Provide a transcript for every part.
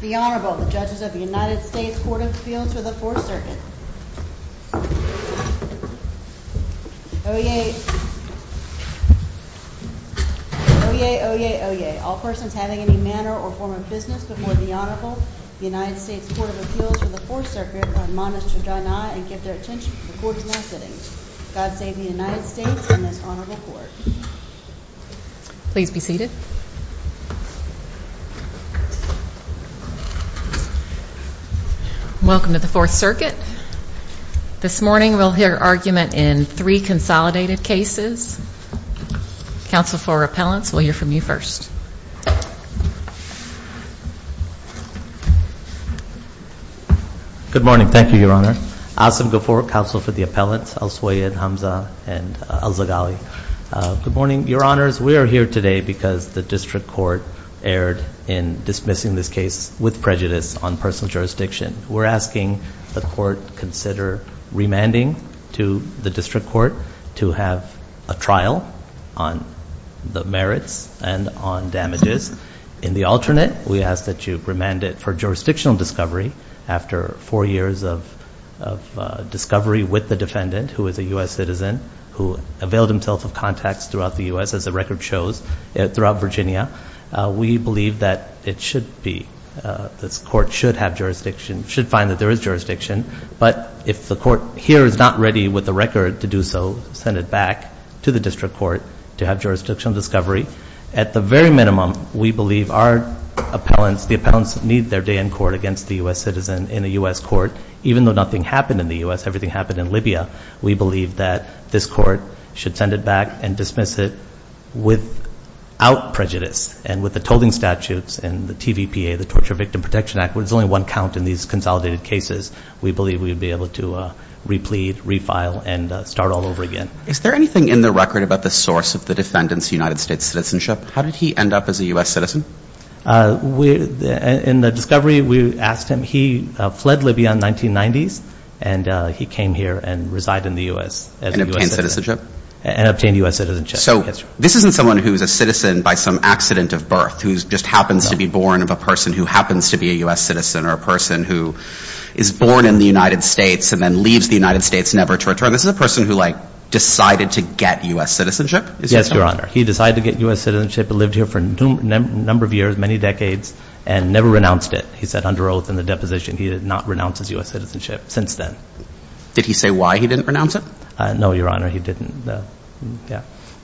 The Honorable, the Judges of the United States Court of Appeals for the Fourth Circuit. Oyez. Oyez, oyez, oyez. All persons having any manner or form of business before the Honorable, the United States Court of Appeals for the Fourth Circuit, are admonished to draw nigh and give their attention to the Court's next sitting. God save the United States and this Honorable Court. Please be seated. Welcome to the Fourth Circuit. This morning we'll hear argument in three consolidated cases. Counsel for Appellants, we'll hear from you first. Good morning. Thank you, Your Honor. Asim Ghafour, Counsel for the Appellants, al-Suyid, Hamza, and al-Zaghawi. Good morning, Your Honors. We are here today because the District Court erred in dismissing this case with prejudice on personal jurisdiction. We're asking the Court to consider remanding to the District Court to have a trial on the merits and on damages. In the alternate, we ask that you remand it for jurisdictional discovery after four years of discovery with the defendant, who is a U.S. citizen, who availed himself of contacts throughout the U.S., as the record shows, throughout Virginia. We believe that it should be, this Court should have jurisdiction, should find that there is jurisdiction, but if the Court here is not ready with the record to do so, send it back to the District Court to have jurisdictional discovery. At the very minimum, we believe our appellants, the appellants need their day in court against the U.S. citizen in a U.S. court. Even though nothing happened in the U.S., everything happened in Libya, we believe that this Court should send it back and dismiss it without prejudice. And with the tolling statutes and the TVPA, the Torture Victim Protection Act, where there's only one count in these consolidated cases, we believe we would be able to replete, refile, and start all over again. Is there anything in the record about the source of the defendant's United States citizenship? How did he end up as a U.S. citizen? In the discovery, we asked him. He fled Libya in the 1990s, and he came here and resided in the U.S. as a U.S. citizen. And obtained U.S. citizenship. So this isn't someone who's a citizen by some accident of birth, who just happens to be born of a person who happens to be a U.S. citizen or a person who is born in the United States and then leaves the United States never to return. So this is a person who, like, decided to get U.S. citizenship? Yes, Your Honor. He decided to get U.S. citizenship and lived here for a number of years, many decades, and never renounced it. He said under oath in the deposition he did not renounce his U.S. citizenship since then. Did he say why he didn't renounce it? No, Your Honor. He didn't. Yeah.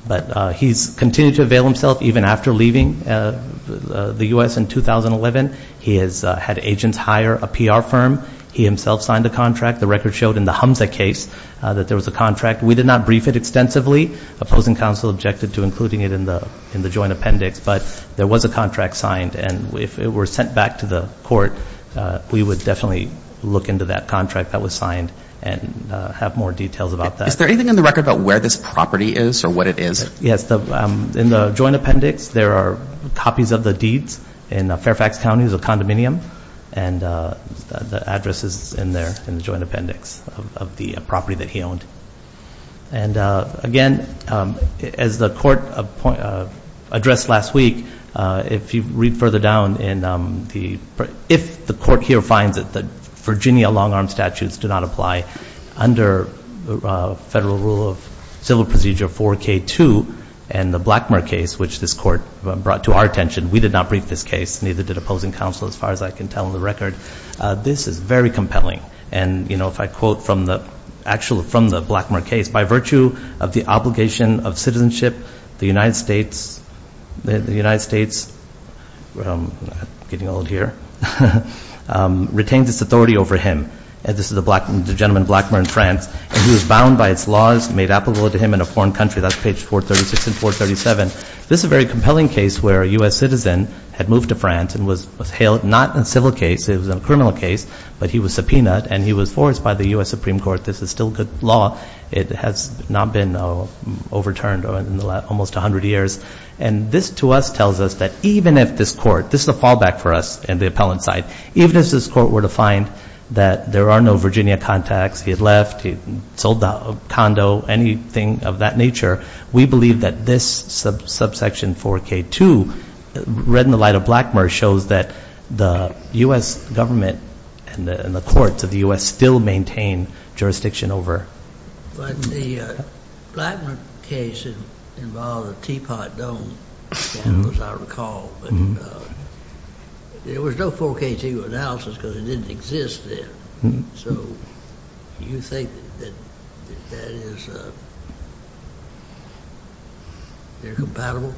But he's continued to avail himself even after leaving the U.S. in 2011. He has had agents hire a PR firm. He himself signed a contract. The record showed in the Hamza case that there was a contract. We did not brief it extensively. Opposing counsel objected to including it in the joint appendix. But there was a contract signed. And if it were sent back to the court, we would definitely look into that contract that was signed and have more details about that. Is there anything in the record about where this property is or what it is? Yes. In the joint appendix, there are copies of the deeds in Fairfax County as a condominium. And the address is in there in the joint appendix of the property that he owned. And, again, as the court addressed last week, if you read further down, if the court here finds that the Virginia long-arm statutes do not apply under federal rule of civil procedure 4K2 and the Blackmer case, which this court brought to our attention, we did not brief this case, neither did opposing counsel as far as I can tell in the record. This is very compelling. And, you know, if I quote from the Blackmer case, by virtue of the obligation of citizenship, the United States retained its authority over him. This is the gentleman, Blackmer, in France. And he was bound by its laws made applicable to him in a foreign country. That's page 436 and 437. This is a very compelling case where a U.S. citizen had moved to France and was held not in a civil case. It was a criminal case. But he was subpoenaed and he was forced by the U.S. Supreme Court. This is still good law. It has not been overturned in almost 100 years. And this to us tells us that even if this court, this is a fallback for us in the appellant side, even if this court were to find that there are no Virginia contacts, he had left, he sold the condo, anything of that nature, we believe that this subsection 4K2, read in the light of Blackmer, shows that the U.S. government and the courts of the U.S. still maintain jurisdiction over. But the Blackmer case involved a teapot dome scandal, as I recall. But there was no 4K2 analysis because it didn't exist then. So do you think that that is incompatible?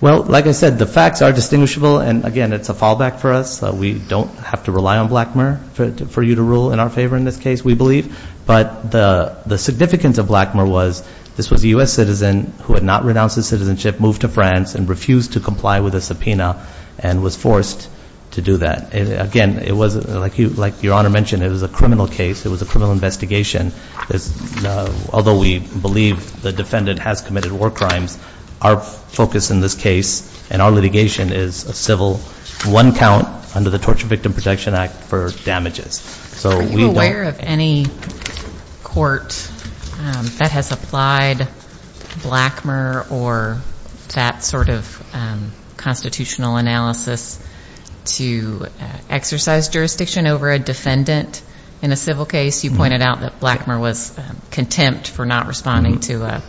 Well, like I said, the facts are distinguishable. And, again, it's a fallback for us. We don't have to rely on Blackmer for you to rule in our favor in this case, we believe. But the significance of Blackmer was this was a U.S. citizen who had not renounced his citizenship, moved to France, and refused to comply with a subpoena and was forced to do that. Again, it was, like Your Honor mentioned, it was a criminal case. It was a criminal investigation. Although we believe the defendant has committed war crimes, our focus in this case and our litigation is a civil one count under the Torture Victim Protection Act for damages. Are you aware of any court that has applied Blackmer or that sort of constitutional analysis to exercise jurisdiction over a defendant in a civil case? You pointed out that Blackmer was contempt for not responding to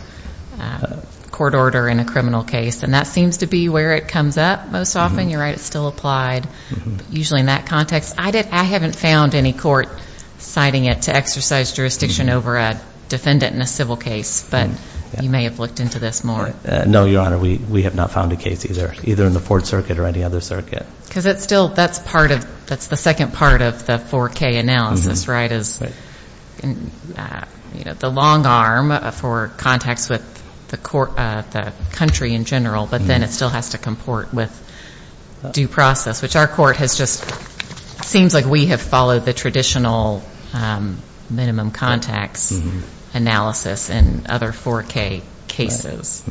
a court order in a criminal case. And that seems to be where it comes up most often. You're right, it's still applied usually in that context. I haven't found any court citing it to exercise jurisdiction over a defendant in a civil case. But you may have looked into this more. No, Your Honor. We have not found a case either, either in the Fourth Circuit or any other circuit. Because it's still, that's part of, that's the second part of the 4K analysis, right? It's the long arm for context with the country in general. But then it still has to comport with due process, which our court has just, it seems like we have followed the traditional minimum context analysis in other 4K cases.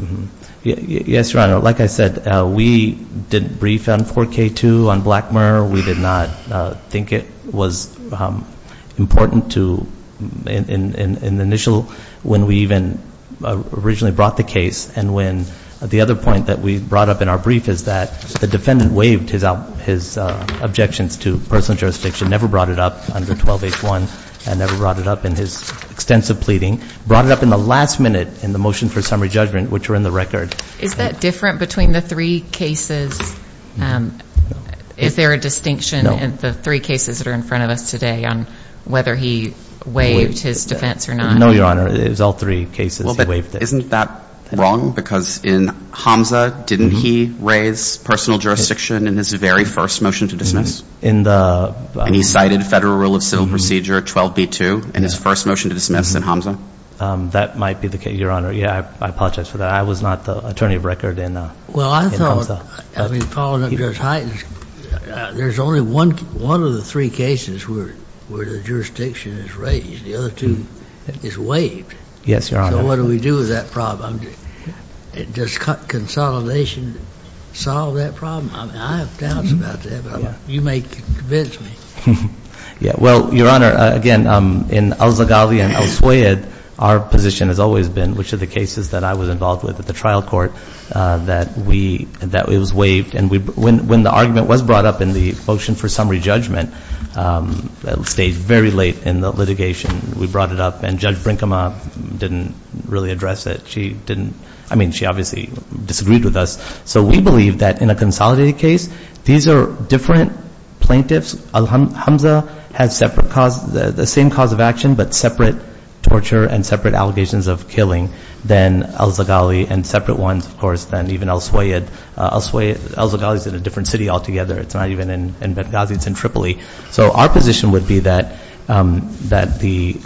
Yes, Your Honor. Like I said, we did brief on 4K too, on Blackmer. We did not think it was important to, in the initial, when we even originally brought the case, and when the other point that we brought up in our brief is that the defendant waived his objections to personal jurisdiction, never brought it up under 12H1, and never brought it up in his extensive pleading. Brought it up in the last minute in the motion for summary judgment, which were in the record. Is that different between the three cases? Is there a distinction in the three cases that are in front of us today on whether he waived his defense or not? No, Your Honor. It was all three cases he waived it. Well, but isn't that wrong? Because in Hamza, didn't he raise personal jurisdiction in his very first motion to dismiss? And he cited Federal Rule of Civil Procedure 12B2 in his first motion to dismiss in Hamza? That might be the case, Your Honor. Yeah, I apologize for that. I was not the attorney of record in Hamza. Well, I thought, I mean, following up Judge Hyten's, there's only one of the three cases where the jurisdiction is raised. The other two is waived. Yes, Your Honor. So what do we do with that problem? Does consolidation solve that problem? I have doubts about that, but you may convince me. Yeah, well, Your Honor, again, in al-Zaghawi and al-Swayed, our position has always been, which of the cases that I was involved with at the trial court, that we, that it was waived. And when the argument was brought up in the motion for summary judgment, it stayed very late in the litigation. We brought it up, and Judge Brinkema didn't really address it. She didn't, I mean, she obviously disagreed with us. So we believe that in a consolidated case, these are different plaintiffs. Hamza has separate cause, the same cause of action, but separate torture and separate allegations of killing than al-Zaghawi, and separate ones, of course, than even al-Swayed. Al-Swayed, al-Zaghawi is in a different city altogether. It's not even in Benghazi. It's in Tripoli. So our position would be that the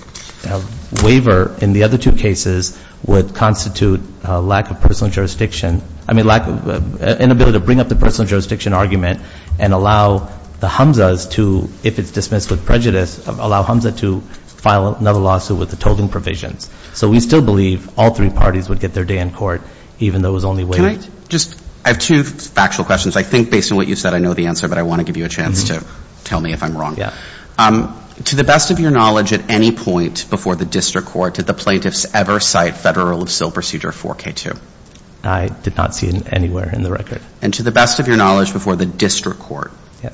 waiver in the other two cases would constitute a lack of personal jurisdiction. I mean, lack of, inability to bring up the personal jurisdiction argument and allow the Hamzas to, if it's dismissed with prejudice, allow Hamza to file another lawsuit with the tolling provisions. So we still believe all three parties would get their day in court, even though it was only waived. Can I just, I have two factual questions. I think based on what you said, I know the answer, but I want to give you a chance to tell me if I'm wrong. To the best of your knowledge, at any point before the district court, did the plaintiffs ever cite federal of sale procedure 4K2? I did not see it anywhere in the record. And to the best of your knowledge, before the district court,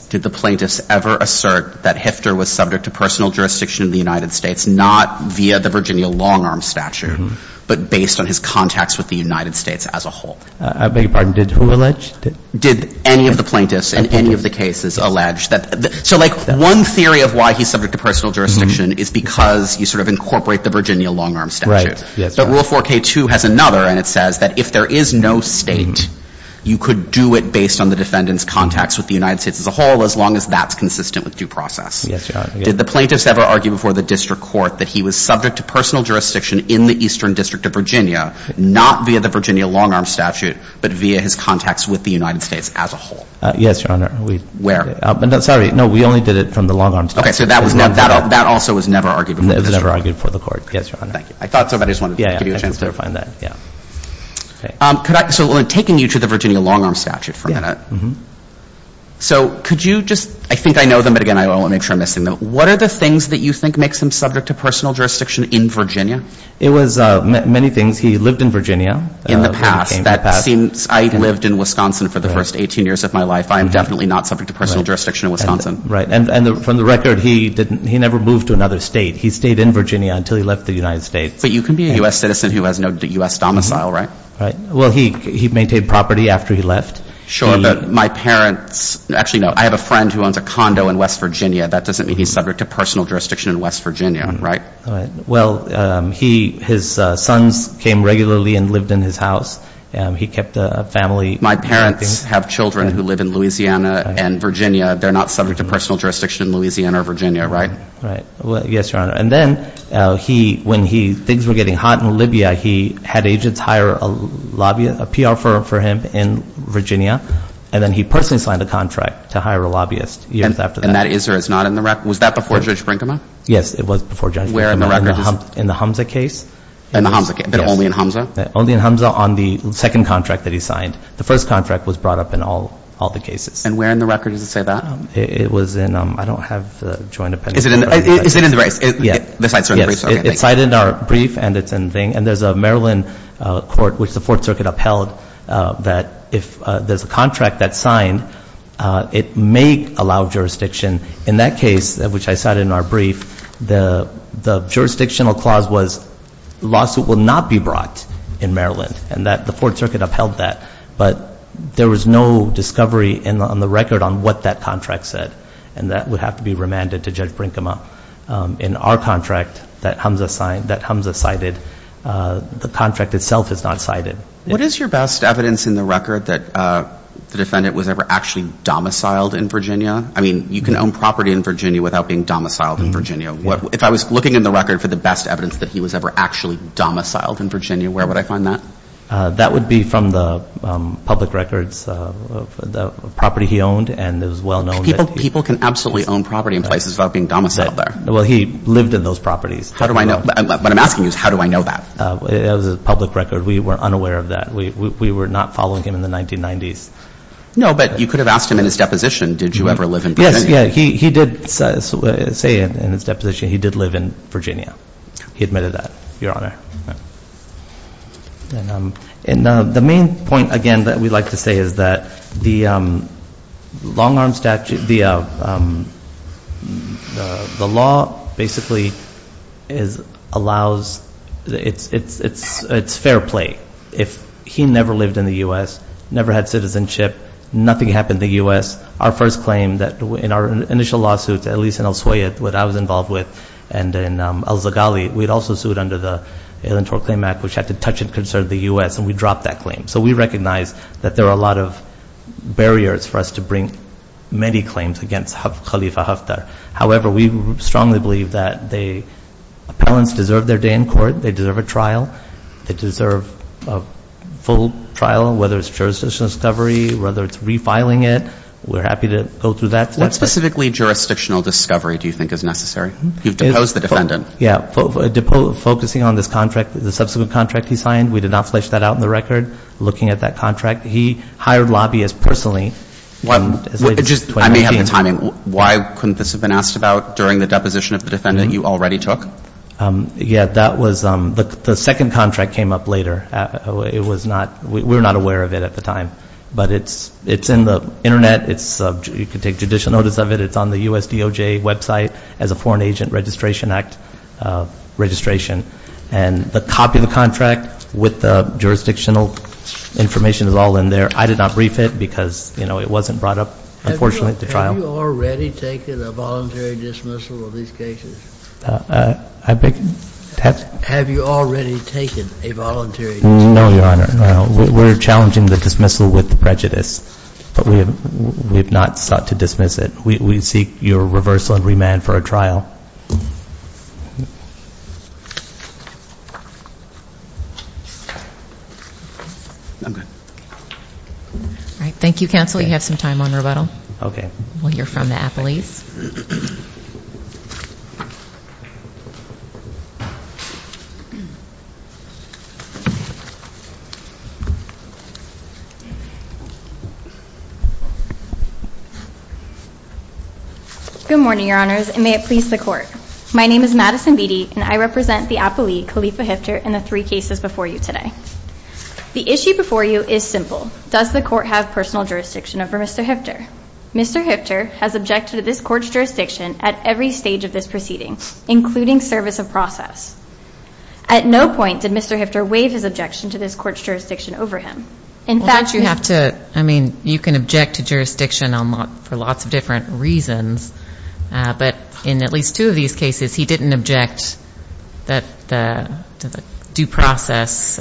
did the plaintiffs ever assert that Hifter was subject to personal jurisdiction in the United States, not via the Virginia long-arm statute, but based on his contacts with the United States as a whole? I beg your pardon. Did who allege? Did any of the plaintiffs in any of the cases allege that? So like one theory of why he's subject to personal jurisdiction is because you sort of incorporate the Virginia long-arm statute. But rule 4K2 has another, and it says that if there is no state, you could do it based on the defendant's contacts with the United States as a whole, as long as that's consistent with due process. Did the plaintiffs ever argue before the district court that he was subject to personal jurisdiction in the Eastern District of Virginia, not via the Virginia long-arm statute, but via his contacts with the United States as a whole? Yes, Your Honor. Where? Sorry. No, we only did it from the long-arm statute. Okay. So that also was never argued before the district court. It was never argued before the court. Yes, Your Honor. Thank you. I thought somebody just wanted to give you a chance to refine that. Okay. So taking you to the Virginia long-arm statute for a minute. Yeah. Mm-hmm. So could you just, I think I know them, but again, I want to make sure I'm missing them. What are the things that you think makes him subject to personal jurisdiction in Virginia? It was many things. He lived in Virginia. In the past. That seems, I lived in Wisconsin for the first 18 years of my life. I am definitely not subject to personal jurisdiction in Wisconsin. Right. And from the record, he never moved to another state. He stayed in Virginia until he left the United States. But you can be a U.S. citizen who has no U.S. domicile, right? Right. Well, he maintained property after he left. Sure, but my parents, actually, no, I have a friend who owns a condo in West Virginia. That doesn't mean he's subject to personal jurisdiction in West Virginia, right? All right. Well, he, his sons came regularly and lived in his house. He kept a family. My parents have children who live in Louisiana and Virginia. They're not subject to personal jurisdiction in Louisiana or Virginia, right? Right. Well, yes, Your Honor. And then he, when he, things were getting hot in Libya, he had agents hire a lobbyist, a PR firm for him in Virginia, and then he personally signed a contract to hire a lobbyist years after that. And that is or is not in the record? Was that before Judge Brinkman? Yes, it was before Judge Brinkman. And where in the record is it? In the Hamza case. In the Hamza case? Yes. But only in Hamza? Only in Hamza on the second contract that he signed. The first contract was brought up in all the cases. And where in the record does it say that? It was in, I don't have a joint opinion. Is it in the briefs? Yes. It's in the briefs? Yes, it's cited in our brief and it's in the thing. And there's a Maryland court, which the Fourth Circuit upheld, that if there's a contract that's signed, it may allow jurisdiction. In that case, which I cited in our brief, the jurisdictional clause was the lawsuit will not be brought in Maryland. And the Fourth Circuit upheld that. But there was no discovery on the record on what that contract said. And that would have to be remanded to Judge Brinkman. In our contract that Hamza signed, that Hamza cited, the contract itself is not cited. What is your best evidence in the record that the defendant was ever actually domiciled in Virginia? I mean, you can own property in Virginia without being domiciled in Virginia. If I was looking in the record for the best evidence that he was ever actually domiciled in Virginia, where would I find that? That would be from the public records of the property he owned and is well known. People can absolutely own property in places without being domiciled there. Well, he lived in those properties. How do I know? What I'm asking you is how do I know that? It was a public record. We were unaware of that. We were not following him in the 1990s. No, but you could have asked him in his deposition. Did you ever live in Virginia? Yes, yeah. He did say in his deposition he did live in Virginia. He admitted that, Your Honor. And the main point, again, that we like to say is that the long-arm statute, the law basically allows, it's fair play. If he never lived in the U.S., never had citizenship, nothing happened in the U.S., our first claim that in our initial lawsuits, at least in Al-Swayed, what I was involved with, and in Al-Zaghali, we'd also sued under the Electoral Claim Act, which had to touch and concern the U.S., and we dropped that claim. So we recognize that there are a lot of barriers for us to bring many claims against Khalifa Haftar. However, we strongly believe that the appellants deserve their day in court. They deserve a trial. They deserve a full trial, whether it's jurisdictional discovery, whether it's refiling it. We're happy to go through that. What specifically jurisdictional discovery do you think is necessary? You've deposed the defendant. Yeah. Focusing on this contract, the subsequent contract he signed, we did not flesh that out in the record. Looking at that contract, he hired lobbyists personally. I may have the timing. Why couldn't this have been asked about during the deposition of the defendant you already took? Yeah, that was the second contract came up later. We were not aware of it at the time. But it's in the Internet. You can take judicial notice of it. It's on the U.S. DOJ website as a Foreign Agent Registration Act registration. And the copy of the contract with the jurisdictional information is all in there. I did not brief it because, you know, it wasn't brought up, unfortunately, at the trial. Have you already taken a voluntary dismissal of these cases? Have you already taken a voluntary dismissal? No, Your Honor. We're challenging the dismissal with prejudice. But we have not sought to dismiss it. We seek your reversal and remand for a trial. All right. Thank you, counsel. We have some time on rebuttal. Okay. Well, you're from the appellees. Good morning, Your Honors, and may it please the Court. My name is Madison Beatty, and I represent the appellee, Khalifa Hifter, in the three cases before you today. The issue before you is simple. Does the Court have personal jurisdiction over Mr. Hifter? Mr. Hifter has objected to this Court's jurisdiction at every stage of this proceeding, including service of process. At no point did Mr. Hifter waive his objection to this Court's jurisdiction over him. Well, don't you have to, I mean, you can object to jurisdiction for lots of different reasons. But in at least two of these cases, he didn't object to the due process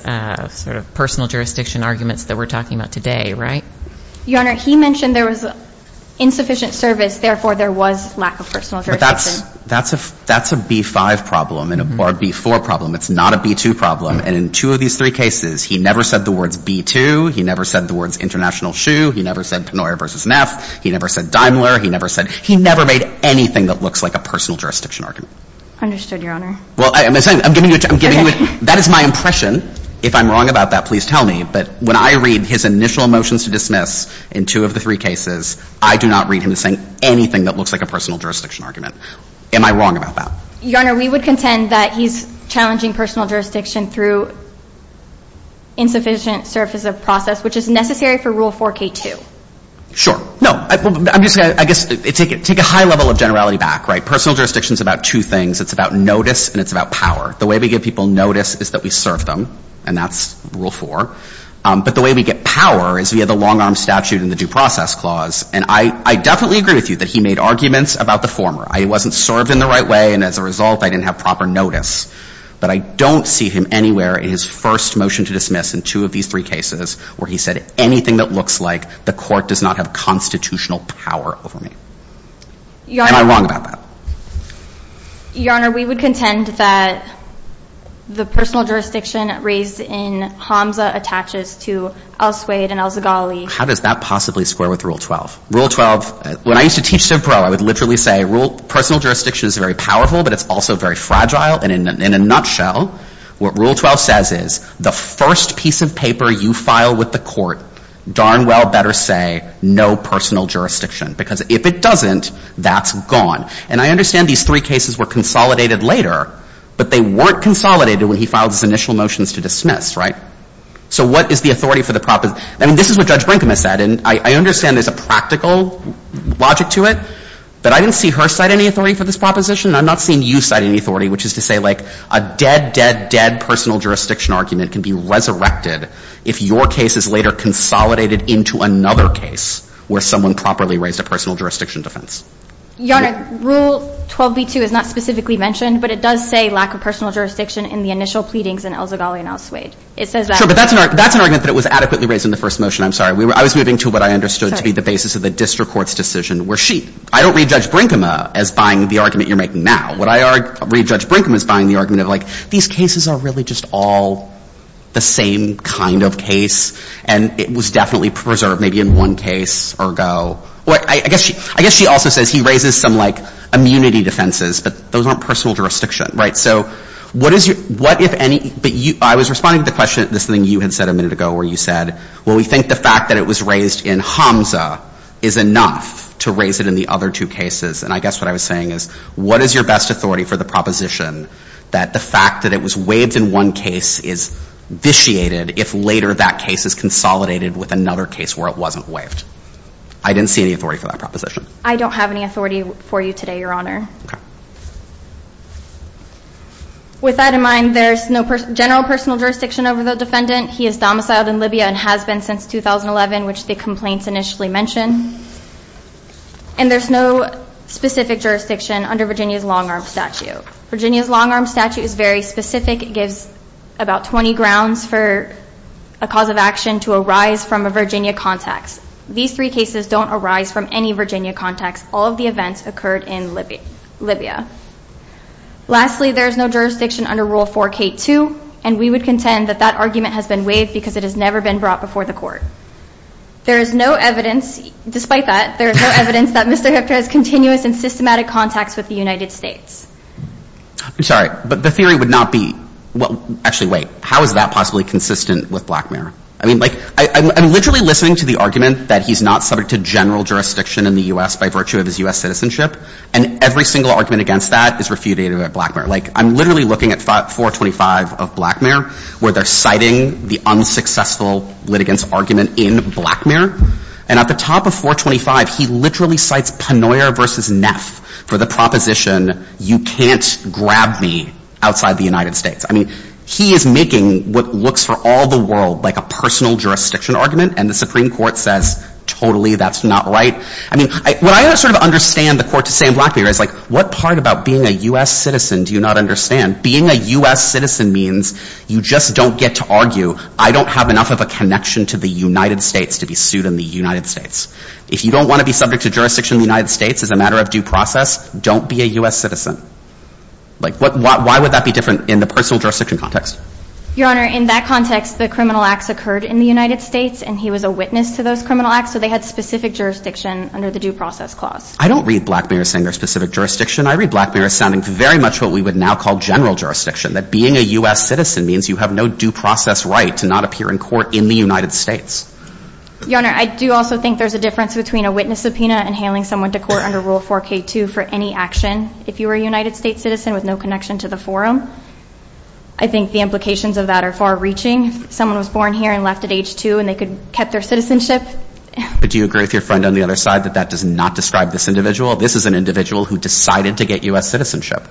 sort of personal jurisdiction arguments that we're talking about today, right? Your Honor, he mentioned there was insufficient service. Therefore, there was lack of personal jurisdiction. But that's a B-5 problem or a B-4 problem. It's not a B-2 problem. And in two of these three cases, he never said the words B-2. He never said the words international shoe. He never said Pennoyer v. Neff. He never said Daimler. He never said – he never made anything that looks like a personal jurisdiction argument. Understood, Your Honor. Well, I'm giving you – that is my impression. If I'm wrong about that, please tell me. But when I read his initial motions to dismiss in two of the three cases, I do not read him as saying anything that looks like a personal jurisdiction argument. Am I wrong about that? Your Honor, we would contend that he's challenging personal jurisdiction through insufficient service of process, which is necessary for Rule 4K2. Sure. No. I'm just – I guess take a high level of generality back, right? Personal jurisdiction is about two things. It's about notice and it's about power. The way we give people notice is that we serve them, and that's Rule 4. But the way we get power is via the long-arm statute and the due process clause. And I definitely agree with you that he made arguments about the former. I wasn't served in the right way, and as a result, I didn't have proper notice. But I don't see him anywhere in his first motion to dismiss in two of these three cases where he said anything that looks like the court does not have constitutional power over me. Your Honor. Am I wrong about that? Your Honor, we would contend that the personal jurisdiction raised in HAMSA attaches to El Suede and El Zoghali. How does that possibly square with Rule 12? Rule 12 – when I used to teach CivPro, I would literally say personal jurisdiction is very powerful, but it's also very fragile. And in a nutshell, what Rule 12 says is the first piece of paper you file with the court, darn well better say no personal jurisdiction. Because if it doesn't, that's gone. And I understand these three cases were consolidated later, but they weren't consolidated when he filed his initial motions to dismiss. Right? So what is the authority for the – I mean, this is what Judge Brinkman said, and I understand there's a practical logic to it. But I didn't see her cite any authority for this proposition, and I'm not seeing you cite any authority, which is to say, like, a dead, dead, dead personal jurisdiction argument can be resurrected if your case is later consolidated into another case where someone properly raised a personal jurisdiction defense. Your Honor, Rule 12b-2 is not specifically mentioned, but it does say lack of personal jurisdiction in the initial pleadings in El Zoghali and El Suede. It says that. Sure, but that's an argument that it was adequately raised in the first motion. I'm sorry. I was moving to what I understood to be the basis of the district court's decision, where she – I don't read Judge Brinkman as buying the argument you're making now. What I read Judge Brinkman was buying the argument of, like, these cases are really just all the same kind of case, and it was definitely preserved maybe in one case or go. I guess she also says he raises some, like, immunity defenses, but those aren't personal jurisdiction. Right? So what is your – what if any – but I was responding to the question, this thing you had said a minute ago where you said, well, we think the fact that it was raised in Hamza is enough to raise it in the other two cases. And I guess what I was saying is, what is your best authority for the proposition that the fact that it was waived in one case is vitiated if later that case is consolidated with another case where it wasn't waived? I didn't see any authority for that proposition. I don't have any authority for you today, Your Honor. Okay. With that in mind, there's no general personal jurisdiction over the defendant. He is domiciled in Libya and has been since 2011, which the complaints initially mention. And there's no specific jurisdiction under Virginia's long-arm statute. Virginia's long-arm statute is very specific. It gives about 20 grounds for a cause of action to arise from a Virginia context. These three cases don't arise from any Virginia context. All of the events occurred in Libya. Lastly, there is no jurisdiction under Rule 4K2, and we would contend that that argument has been waived because it has never been brought before the Court. There is no evidence, despite that, there is no evidence that Mr. Hipta has continuous and systematic contacts with the United States. I'm sorry, but the theory would not be, well, actually, wait. How is that possibly consistent with blackmail? I mean, like, I'm literally listening to the argument that he's not subject to general jurisdiction in the U.S. by virtue of his U.S. citizenship, and every single argument against that is refuted at blackmail. Like, I'm literally looking at 425 of blackmail where they're citing the unsuccessful litigants' argument in blackmail, and at the top of 425, he literally cites Penoyer v. Neff for the proposition, you can't grab me outside the United States. I mean, he is making what looks for all the world like a personal jurisdiction argument, and the Supreme Court says, totally, that's not right. I mean, what I sort of understand the Court to say in blackmail is, like, what part about being a U.S. citizen do you not understand? Being a U.S. citizen means you just don't get to argue, I don't have enough of a connection to the United States to be sued in the United States. If you don't want to be subject to jurisdiction in the United States as a matter of due process, don't be a U.S. citizen. Like, why would that be different in the personal jurisdiction context? Your Honor, in that context, the criminal acts occurred in the United States, and he was a witness to those criminal acts, so they had specific jurisdiction under the due process clause. I don't read blackmailers saying they're specific jurisdiction. I read blackmailers sounding very much what we would now call general jurisdiction, that being a U.S. citizen means you have no due process right to not appear in court in the United States. Your Honor, I do also think there's a difference between a witness subpoena and handling someone to court under Rule 4K2 for any action, if you were a United States citizen with no connection to the forum. I think the implications of that are far-reaching. Someone was born here and left at age 2, and they could have kept their citizenship. But do you agree with your friend on the other side that that does not describe this individual? This is an individual who decided to get U.S. citizenship.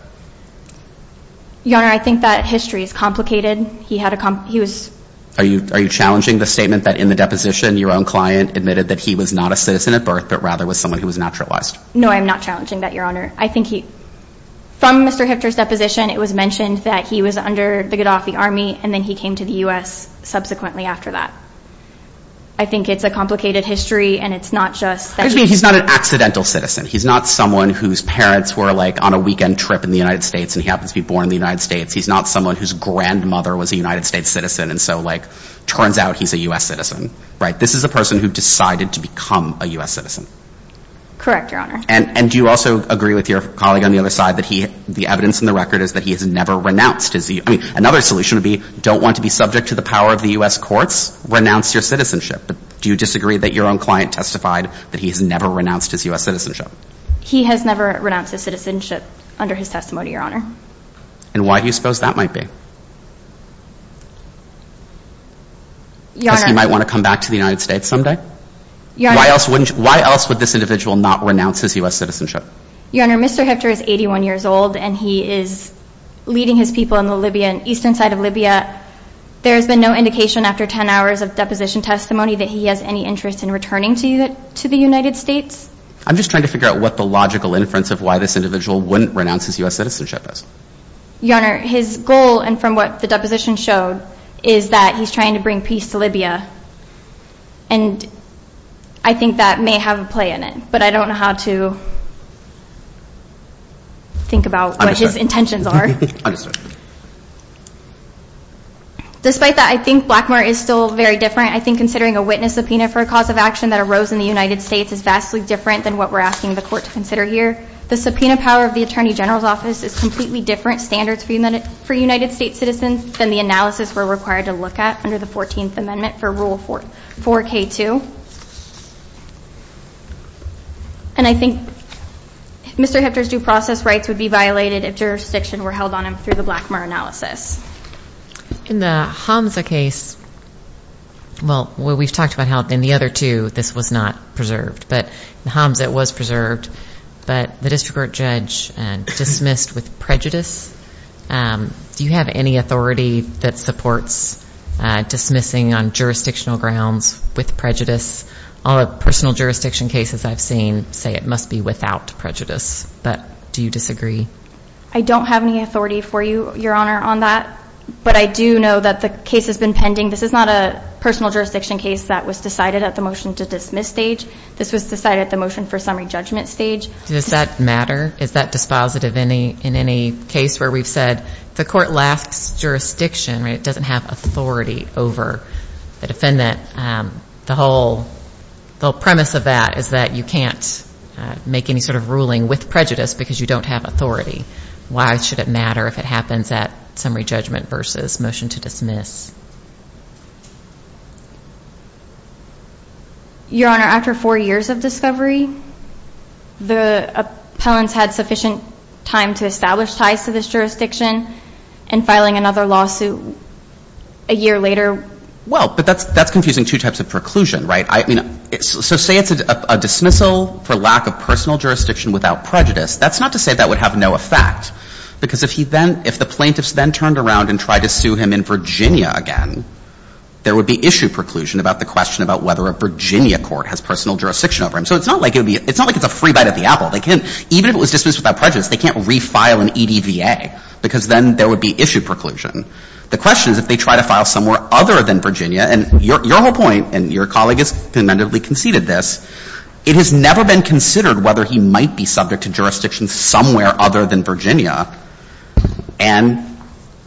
Your Honor, I think that history is complicated. He had a—he was— Are you challenging the statement that in the deposition, your own client admitted that he was not a citizen at birth, but rather was someone who was naturalized? No, I am not challenging that, Your Honor. I think he—from Mr. Hifter's deposition, it was mentioned that he was under the Qaddafi army, and then he came to the U.S. subsequently after that. I think it's a complicated history, and it's not just that he— He's not an accidental citizen. He's not someone whose parents were, like, on a weekend trip in the United States, and he happens to be born in the United States. He's not someone whose grandmother was a United States citizen, and so, like, turns out he's a U.S. citizen, right? This is a person who decided to become a U.S. citizen. Correct, Your Honor. And do you also agree with your colleague on the other side that he— the evidence in the record is that he has never renounced his— I mean, another solution would be don't want to be subject to the power of the U.S. courts? Renounce your citizenship. Do you disagree that your own client testified that he has never renounced his U.S. citizenship? He has never renounced his citizenship under his testimony, Your Honor. And why do you suppose that might be? Your Honor— Because he might want to come back to the United States someday? Your Honor— Why else would this individual not renounce his U.S. citizenship? Your Honor, Mr. Hifter is 81 years old, and he is leading his people in the eastern side of Libya. There has been no indication after 10 hours of deposition testimony that he has any interest in returning to the United States? I'm just trying to figure out what the logical inference of why this individual wouldn't renounce his U.S. citizenship is. Your Honor, his goal, and from what the deposition showed, is that he's trying to bring peace to Libya. And I think that may have a play in it, but I don't know how to think about what his intentions are. Understood. Despite that, I think Blackmore is still very different. I think considering a witness subpoena for a cause of action that arose in the United States is vastly different than what we're asking the Court to consider here. The subpoena power of the Attorney General's Office is completely different standards for United States citizens than the analysis we're required to look at under the 14th Amendment for Rule 4K2. And I think Mr. Hifter's due process rights would be violated if jurisdiction were held on him through the Blackmore analysis. In the Hamza case, well, we've talked about how in the other two this was not preserved, but in Hamza it was preserved. But the district court judge dismissed with prejudice. Do you have any authority that supports dismissing on jurisdictional grounds with prejudice? All the personal jurisdiction cases I've seen say it must be without prejudice. But do you disagree? I don't have any authority for you, Your Honor, on that. But I do know that the case has been pending. This is not a personal jurisdiction case that was decided at the motion to dismiss stage. This was decided at the motion for summary judgment stage. Does that matter? Is that dispositive in any case where we've said the court lacks jurisdiction, right? It doesn't have authority over the defendant. The whole premise of that is that you can't make any sort of ruling with prejudice because you don't have authority. Why should it matter if it happens at summary judgment versus motion to dismiss? Your Honor, after four years of discovery, the appellants had sufficient time to establish ties to this jurisdiction and filing another lawsuit a year later. Well, but that's confusing two types of preclusion, right? So say it's a dismissal for lack of personal jurisdiction without prejudice. That's not to say that would have no effect, because if the plaintiffs then turned around and tried to sue him in Virginia again, there would be issue preclusion about the question about whether a Virginia court has personal jurisdiction over him. So it's not like it's a free bite of the apple. Even if it was dismissed without prejudice, they can't refile an EDVA because then there would be issue preclusion. The question is if they try to file somewhere other than Virginia, and your whole point, and your colleague has commendably conceded this, it has never been considered whether he might be subject to jurisdiction somewhere other than Virginia. And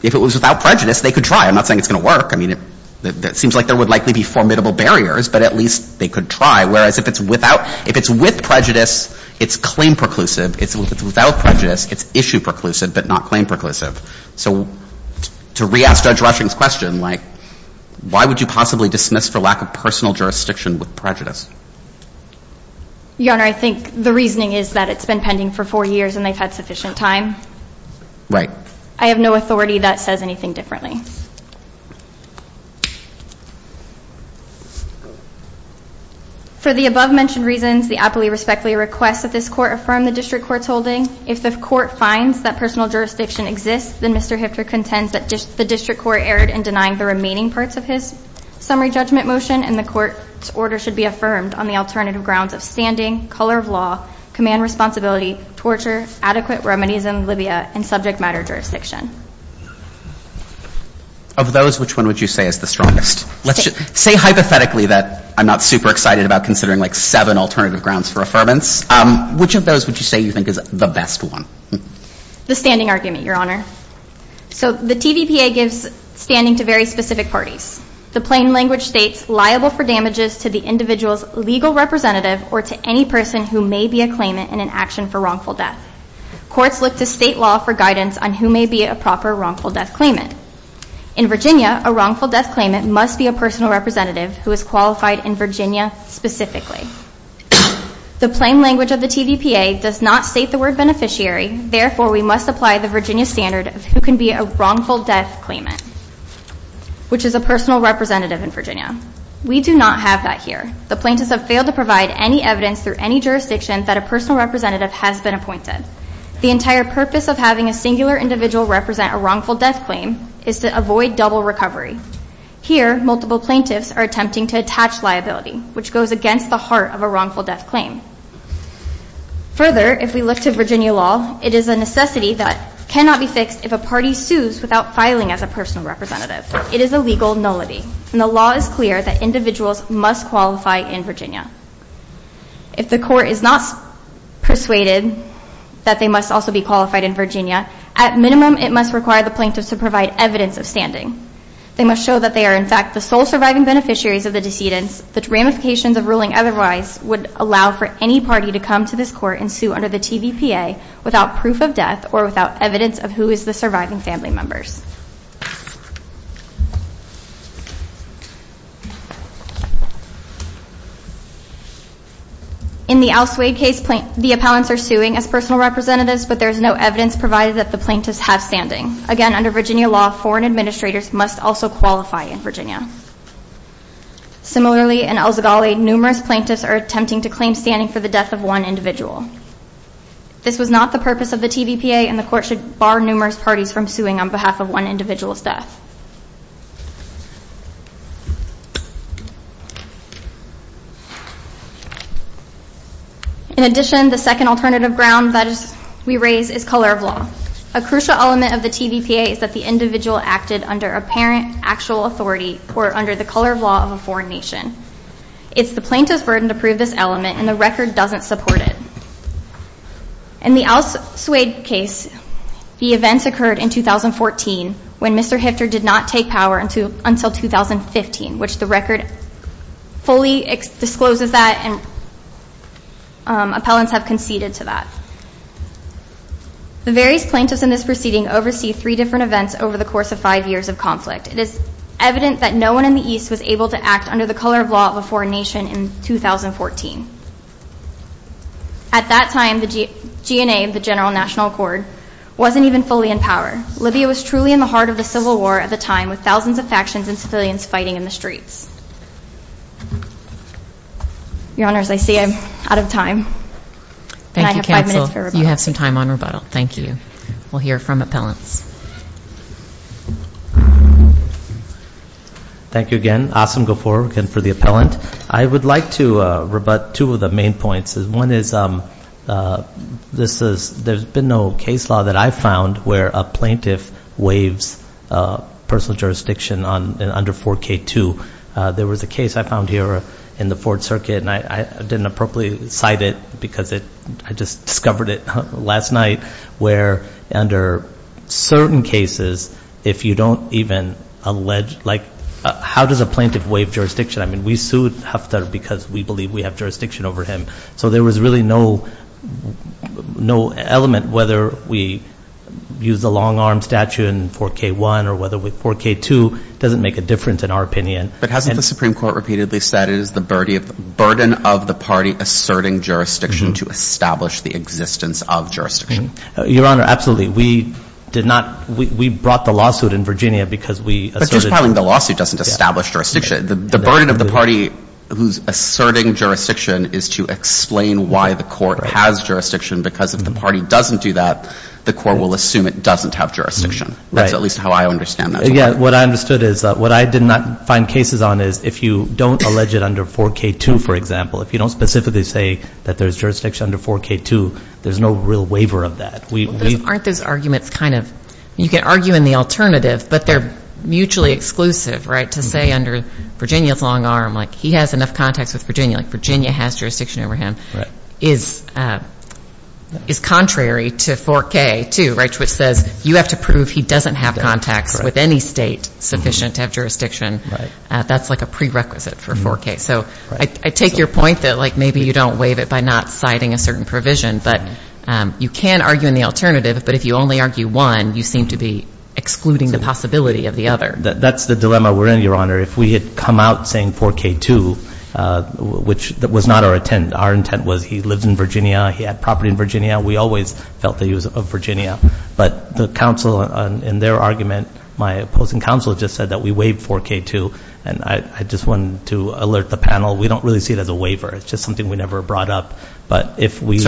if it was without prejudice, they could try. I'm not saying it's going to work. I mean, it seems like there would likely be formidable barriers, but at least they could try. Whereas if it's without, if it's with prejudice, it's claim preclusive. If it's without prejudice, it's issue preclusive but not claim preclusive. So to re-ask Judge Rushing's question, like why would you possibly dismiss for lack of personal jurisdiction with prejudice? Your Honor, I think the reasoning is that it's been pending for four years and they've had sufficient time. Right. I have no authority that says anything differently. For the above-mentioned reasons, the appellee respectfully requests that this court affirm the district court's holding. If the court finds that personal jurisdiction exists, then Mr. Hifter contends that the district court erred in denying the remaining parts of his summary judgment motion and the court's order should be affirmed on the alternative grounds of standing, color of law, command responsibility, torture, adequate remedies in Libya, and subject matter jurisdiction. Of those, which one would you say is the strongest? Say hypothetically that I'm not super excited about considering, like, seven alternative grounds for affirmance. Which of those would you say you think is the best one? The standing argument, Your Honor. So the TVPA gives standing to very specific parties. The plain language states liable for damages to the individual's legal representative or to any person who may be a claimant in an action for wrongful death. Courts look to state law for guidance on who may be a proper wrongful death claimant. In Virginia, a wrongful death claimant must be a personal representative who is qualified in Virginia specifically. The plain language of the TVPA does not state the word beneficiary. Therefore, we must apply the Virginia standard of who can be a wrongful death claimant, which is a personal representative in Virginia. We do not have that here. The plaintiffs have failed to provide any evidence through any jurisdiction that a personal representative has been appointed. The entire purpose of having a singular individual represent a wrongful death claim is to avoid double recovery. Here, multiple plaintiffs are attempting to attach liability, which goes against the heart of a wrongful death claim. Further, if we look to Virginia law, it is a necessity that cannot be fixed if a party sues without filing as a personal representative. It is a legal nullity, and the law is clear that individuals must qualify in Virginia. If the court is not persuaded that they must also be qualified in Virginia, at minimum it must require the plaintiffs to provide evidence of standing. They must show that they are, in fact, the sole surviving beneficiaries of the decedents. The ramifications of ruling otherwise would allow for any party to come to this court and sue under the TVPA without proof of death or without evidence of who is the surviving family members. In the Al Swade case, the appellants are suing as personal representatives, but there is no evidence provided that the plaintiffs have standing. Again, under Virginia law, foreign administrators must also qualify in Virginia. Similarly, in El Zagali, numerous plaintiffs are attempting to claim standing for the death of one individual. This was not the purpose of the TVPA, and the court should bar numerous parties from suing on behalf of one individual's death. In addition, the second alternative ground that we raise is color of law. A crucial element of the TVPA is that the individual acted under apparent actual authority or under the color of law of a foreign nation. It's the plaintiff's burden to prove this element, and the record doesn't support it. In the Al Swade case, the events occurred in 2014 when Mr. Hifter did not take power until 2015, which the record fully discloses that, and appellants have conceded to that. The various plaintiffs in this proceeding oversee three different events over the course of five years of conflict. It is evident that no one in the East was able to act under the color of law of a foreign nation in 2014. At that time, the GNA, the General National Accord, wasn't even fully in power. Libya was truly in the heart of the civil war at the time, with thousands of factions and civilians fighting in the streets. Your Honors, I see I'm out of time, and I have five minutes for rebuttal. Thank you, Counsel. You have some time on rebuttal. Thank you. We'll hear from appellants. Thank you again. Awesome. Go forward again for the appellant. I would like to rebut two of the main points. One is, there's been no case law that I've found where a plaintiff waives personal jurisdiction under 4K2. There was a case I found here in the Fourth Circuit, and I didn't appropriately cite it because I just discovered it last night, where under certain cases, if you don't even allege, like, how does a plaintiff waive jurisdiction? I mean, we sued Haftar because we believe we have jurisdiction over him. So there was really no element whether we use a long-arm statute in 4K1 or whether 4K2 doesn't make a difference, in our opinion. But hasn't the Supreme Court repeatedly said it is the burden of the party asserting jurisdiction to establish the existence of jurisdiction? Your Honor, absolutely. We did not – we brought the lawsuit in Virginia because we asserted – to explain why the court has jurisdiction, because if the party doesn't do that, the court will assume it doesn't have jurisdiction. That's at least how I understand that. Yeah. What I understood is, what I did not find cases on is, if you don't allege it under 4K2, for example, if you don't specifically say that there's jurisdiction under 4K2, there's no real waiver of that. Aren't those arguments kind of – you can argue in the alternative, but they're mutually exclusive, right, to say under Virginia's long arm, like, he has enough contacts with Virginia, like, Virginia has jurisdiction over him, is contrary to 4K2, right, which says you have to prove he doesn't have contacts with any state sufficient to have jurisdiction. That's like a prerequisite for 4K. So I take your point that, like, maybe you don't waive it by not citing a certain provision, but you can argue in the alternative, but if you only argue one, you seem to be excluding the possibility of the other. That's the dilemma we're in, Your Honor. If we had come out saying 4K2, which was not our intent. Our intent was he lives in Virginia. He had property in Virginia. We always felt that he was of Virginia. But the counsel in their argument, my opposing counsel, just said that we waived 4K2, and I just wanted to alert the panel, we don't really see it as a waiver. It's just something we never brought up. So it's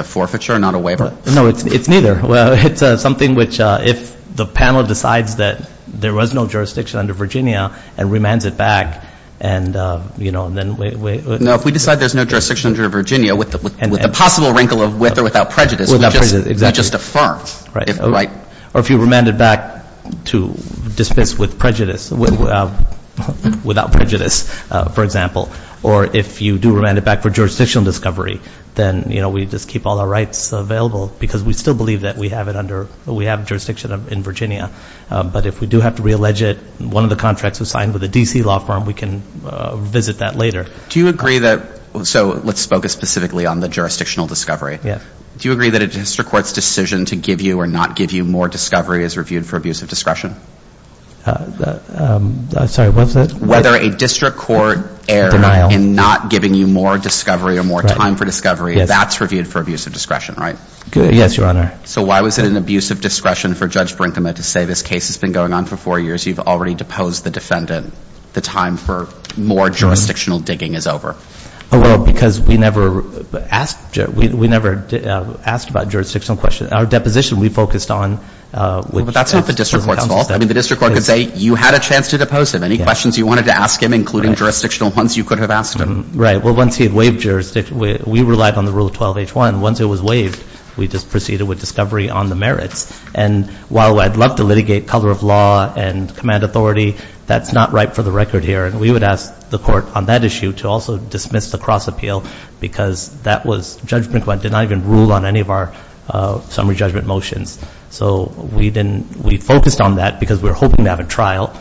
a forfeiture, not a waiver? No, it's neither. Well, it's something which if the panel decides that there was no jurisdiction under Virginia and remands it back, and, you know, then we ---- No, if we decide there's no jurisdiction under Virginia with the possible wrinkle of with or without prejudice, we just affirm. Or if you remand it back to dismiss with prejudice, without prejudice, for example. Or if you do remand it back for jurisdictional discovery, then, you know, we just keep all our rights available because we still believe that we have it under ---- we have jurisdiction in Virginia. But if we do have to reallege it, one of the contracts was signed with a D.C. law firm. We can visit that later. Do you agree that ---- so let's focus specifically on the jurisdictional discovery. Yes. Do you agree that a district court's decision to give you or not give you more discovery is reviewed for abuse of discretion? Sorry, what was that? Whether a district court error in not giving you more discovery or more time for discovery, that's reviewed for abuse of discretion, right? Yes, Your Honor. So why was it an abuse of discretion for Judge Brinkman to say this case has been going on for four years, you've already deposed the defendant, the time for more jurisdictional digging is over? Well, because we never asked ---- we never asked about jurisdictional questions. Our deposition we focused on ---- But that's not the district court's fault. I mean, the district court could say you had a chance to depose him. Any questions you wanted to ask him, including jurisdictional ones you could have asked him. Right. Well, once he had waived jurisdiction, we relied on the Rule 12-H1. Once it was waived, we just proceeded with discovery on the merits. And while I'd love to litigate color of law and command authority, that's not ripe for the record here. And we would ask the court on that issue to also dismiss the cross-appeal because that was Judge Brinkman did not even rule on any of our summary judgment motions. So we didn't ---- we focused on that because we were hoping to have a trial.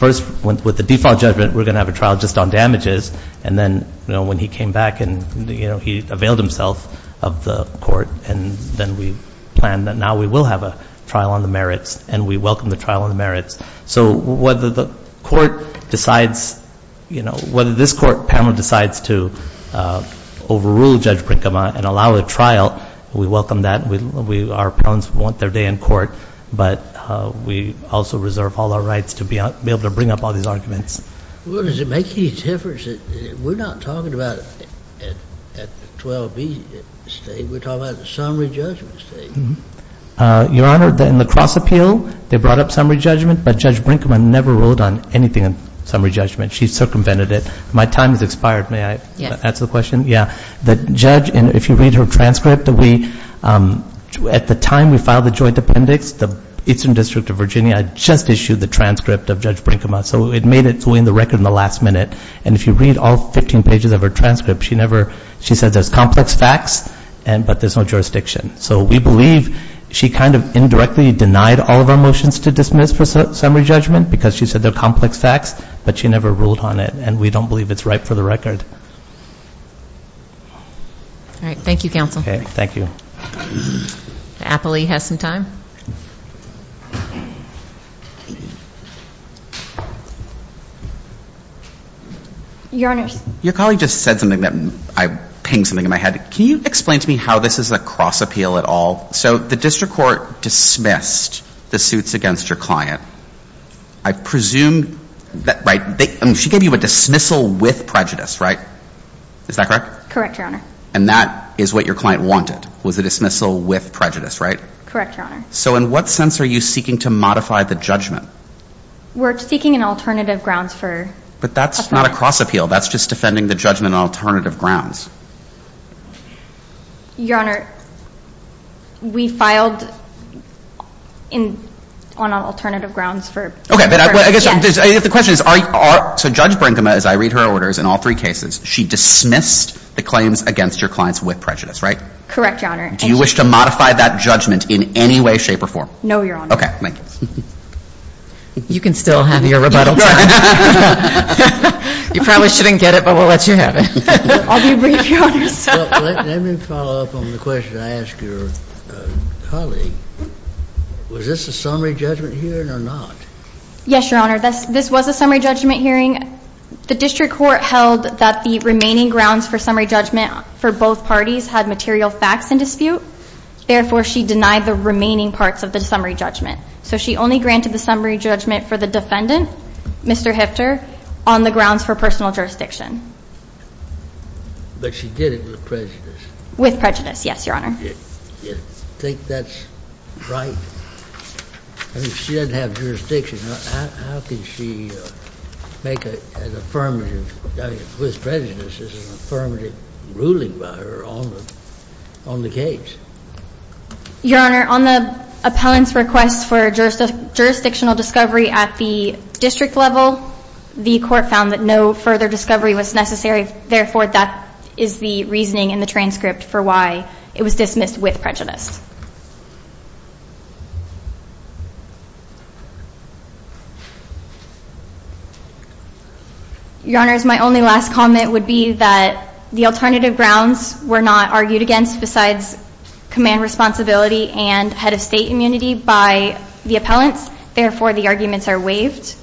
First, with the default judgment, we're going to have a trial just on damages. And then, you know, when he came back and, you know, he availed himself of the court, and then we planned that now we will have a trial on the merits, and we welcome the trial on the merits. So whether the court decides, you know, whether this court, Pamela, decides to overrule Judge Brinkman and allow a trial, we welcome that. Our appellants want their day in court. But we also reserve all our rights to be able to bring up all these arguments. Well, does it make any difference? We're not talking about at the 12-B stage. We're talking about the summary judgment stage. Your Honor, in the cross-appeal, they brought up summary judgment, but Judge Brinkman never ruled on anything in summary judgment. She circumvented it. My time has expired. May I answer the question? Yeah. The judge, if you read her transcript, at the time we filed the joint appendix, the Eastern District of Virginia had just issued the transcript of Judge Brinkman. So it made its way in the record in the last minute. And if you read all 15 pages of her transcript, she said there's complex facts, but there's no jurisdiction. So we believe she kind of indirectly denied all of our motions to dismiss for summary judgment because she said they're complex facts, but she never ruled on it. And we don't believe it's ripe for the record. All right. Thank you, Counsel. Okay. Thank you. Appley has some time. Your Honors. Your colleague just said something that I pinged something in my head. Can you explain to me how this is a cross-appeal at all? So the district court dismissed the suits against your client. I presume that she gave you a dismissal with prejudice, right? Is that correct? Correct, Your Honor. And that is what your client wanted, was a dismissal with prejudice, right? Correct, Your Honor. So in what sense are you seeking to modify the judgment? We're seeking an alternative grounds for appeal. But that's not a cross-appeal. That's just defending the judgment on alternative grounds. Your Honor, we filed on alternative grounds. Okay. But I guess the question is, so Judge Brinkema, as I read her orders in all three cases, she dismissed the claims against your clients with prejudice, right? Correct, Your Honor. Do you wish to modify that judgment in any way, shape, or form? No, Your Honor. Okay. Thank you. You can still have your rebuttal time. You probably shouldn't get it, but we'll let you have it. I'll be brief, Your Honor. Let me follow up on the question I asked your colleague. Was this a summary judgment hearing or not? Yes, Your Honor. This was a summary judgment hearing. The district court held that the remaining grounds for summary judgment for both parties had material facts in dispute. Therefore, she denied the remaining parts of the summary judgment. So she only granted the summary judgment for the defendant, Mr. Hifter, on the grounds for personal jurisdiction. But she did it with prejudice. With prejudice, yes, Your Honor. Do you think that's right? I mean, she doesn't have jurisdiction. How can she make an affirmative judgment with prejudice as an affirmative ruling by her on the case? Your Honor, on the appellant's request for jurisdictional discovery at the district level, the court found that no further discovery was necessary. Therefore, that is the reasoning in the transcript for why it was dismissed with prejudice. Your Honors, my only last comment would be that the alternative grounds were not argued against besides command responsibility and head of state immunity by the appellants. Therefore, the arguments are waived.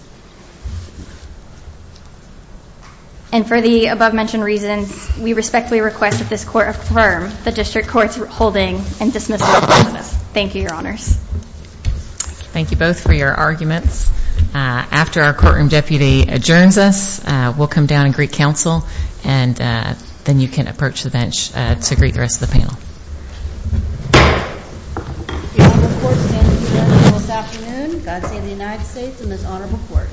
And for the above-mentioned reasons, we respectfully request that this court affirm the district court's holding and dismissal process. Thank you, Your Honors. Thank you both for your arguments. After our courtroom deputy adjourns us, we'll come down and greet counsel, and then you can approach the bench to greet the rest of the panel. The honorable court stands adjourned until this afternoon. God save the United States and this honorable court.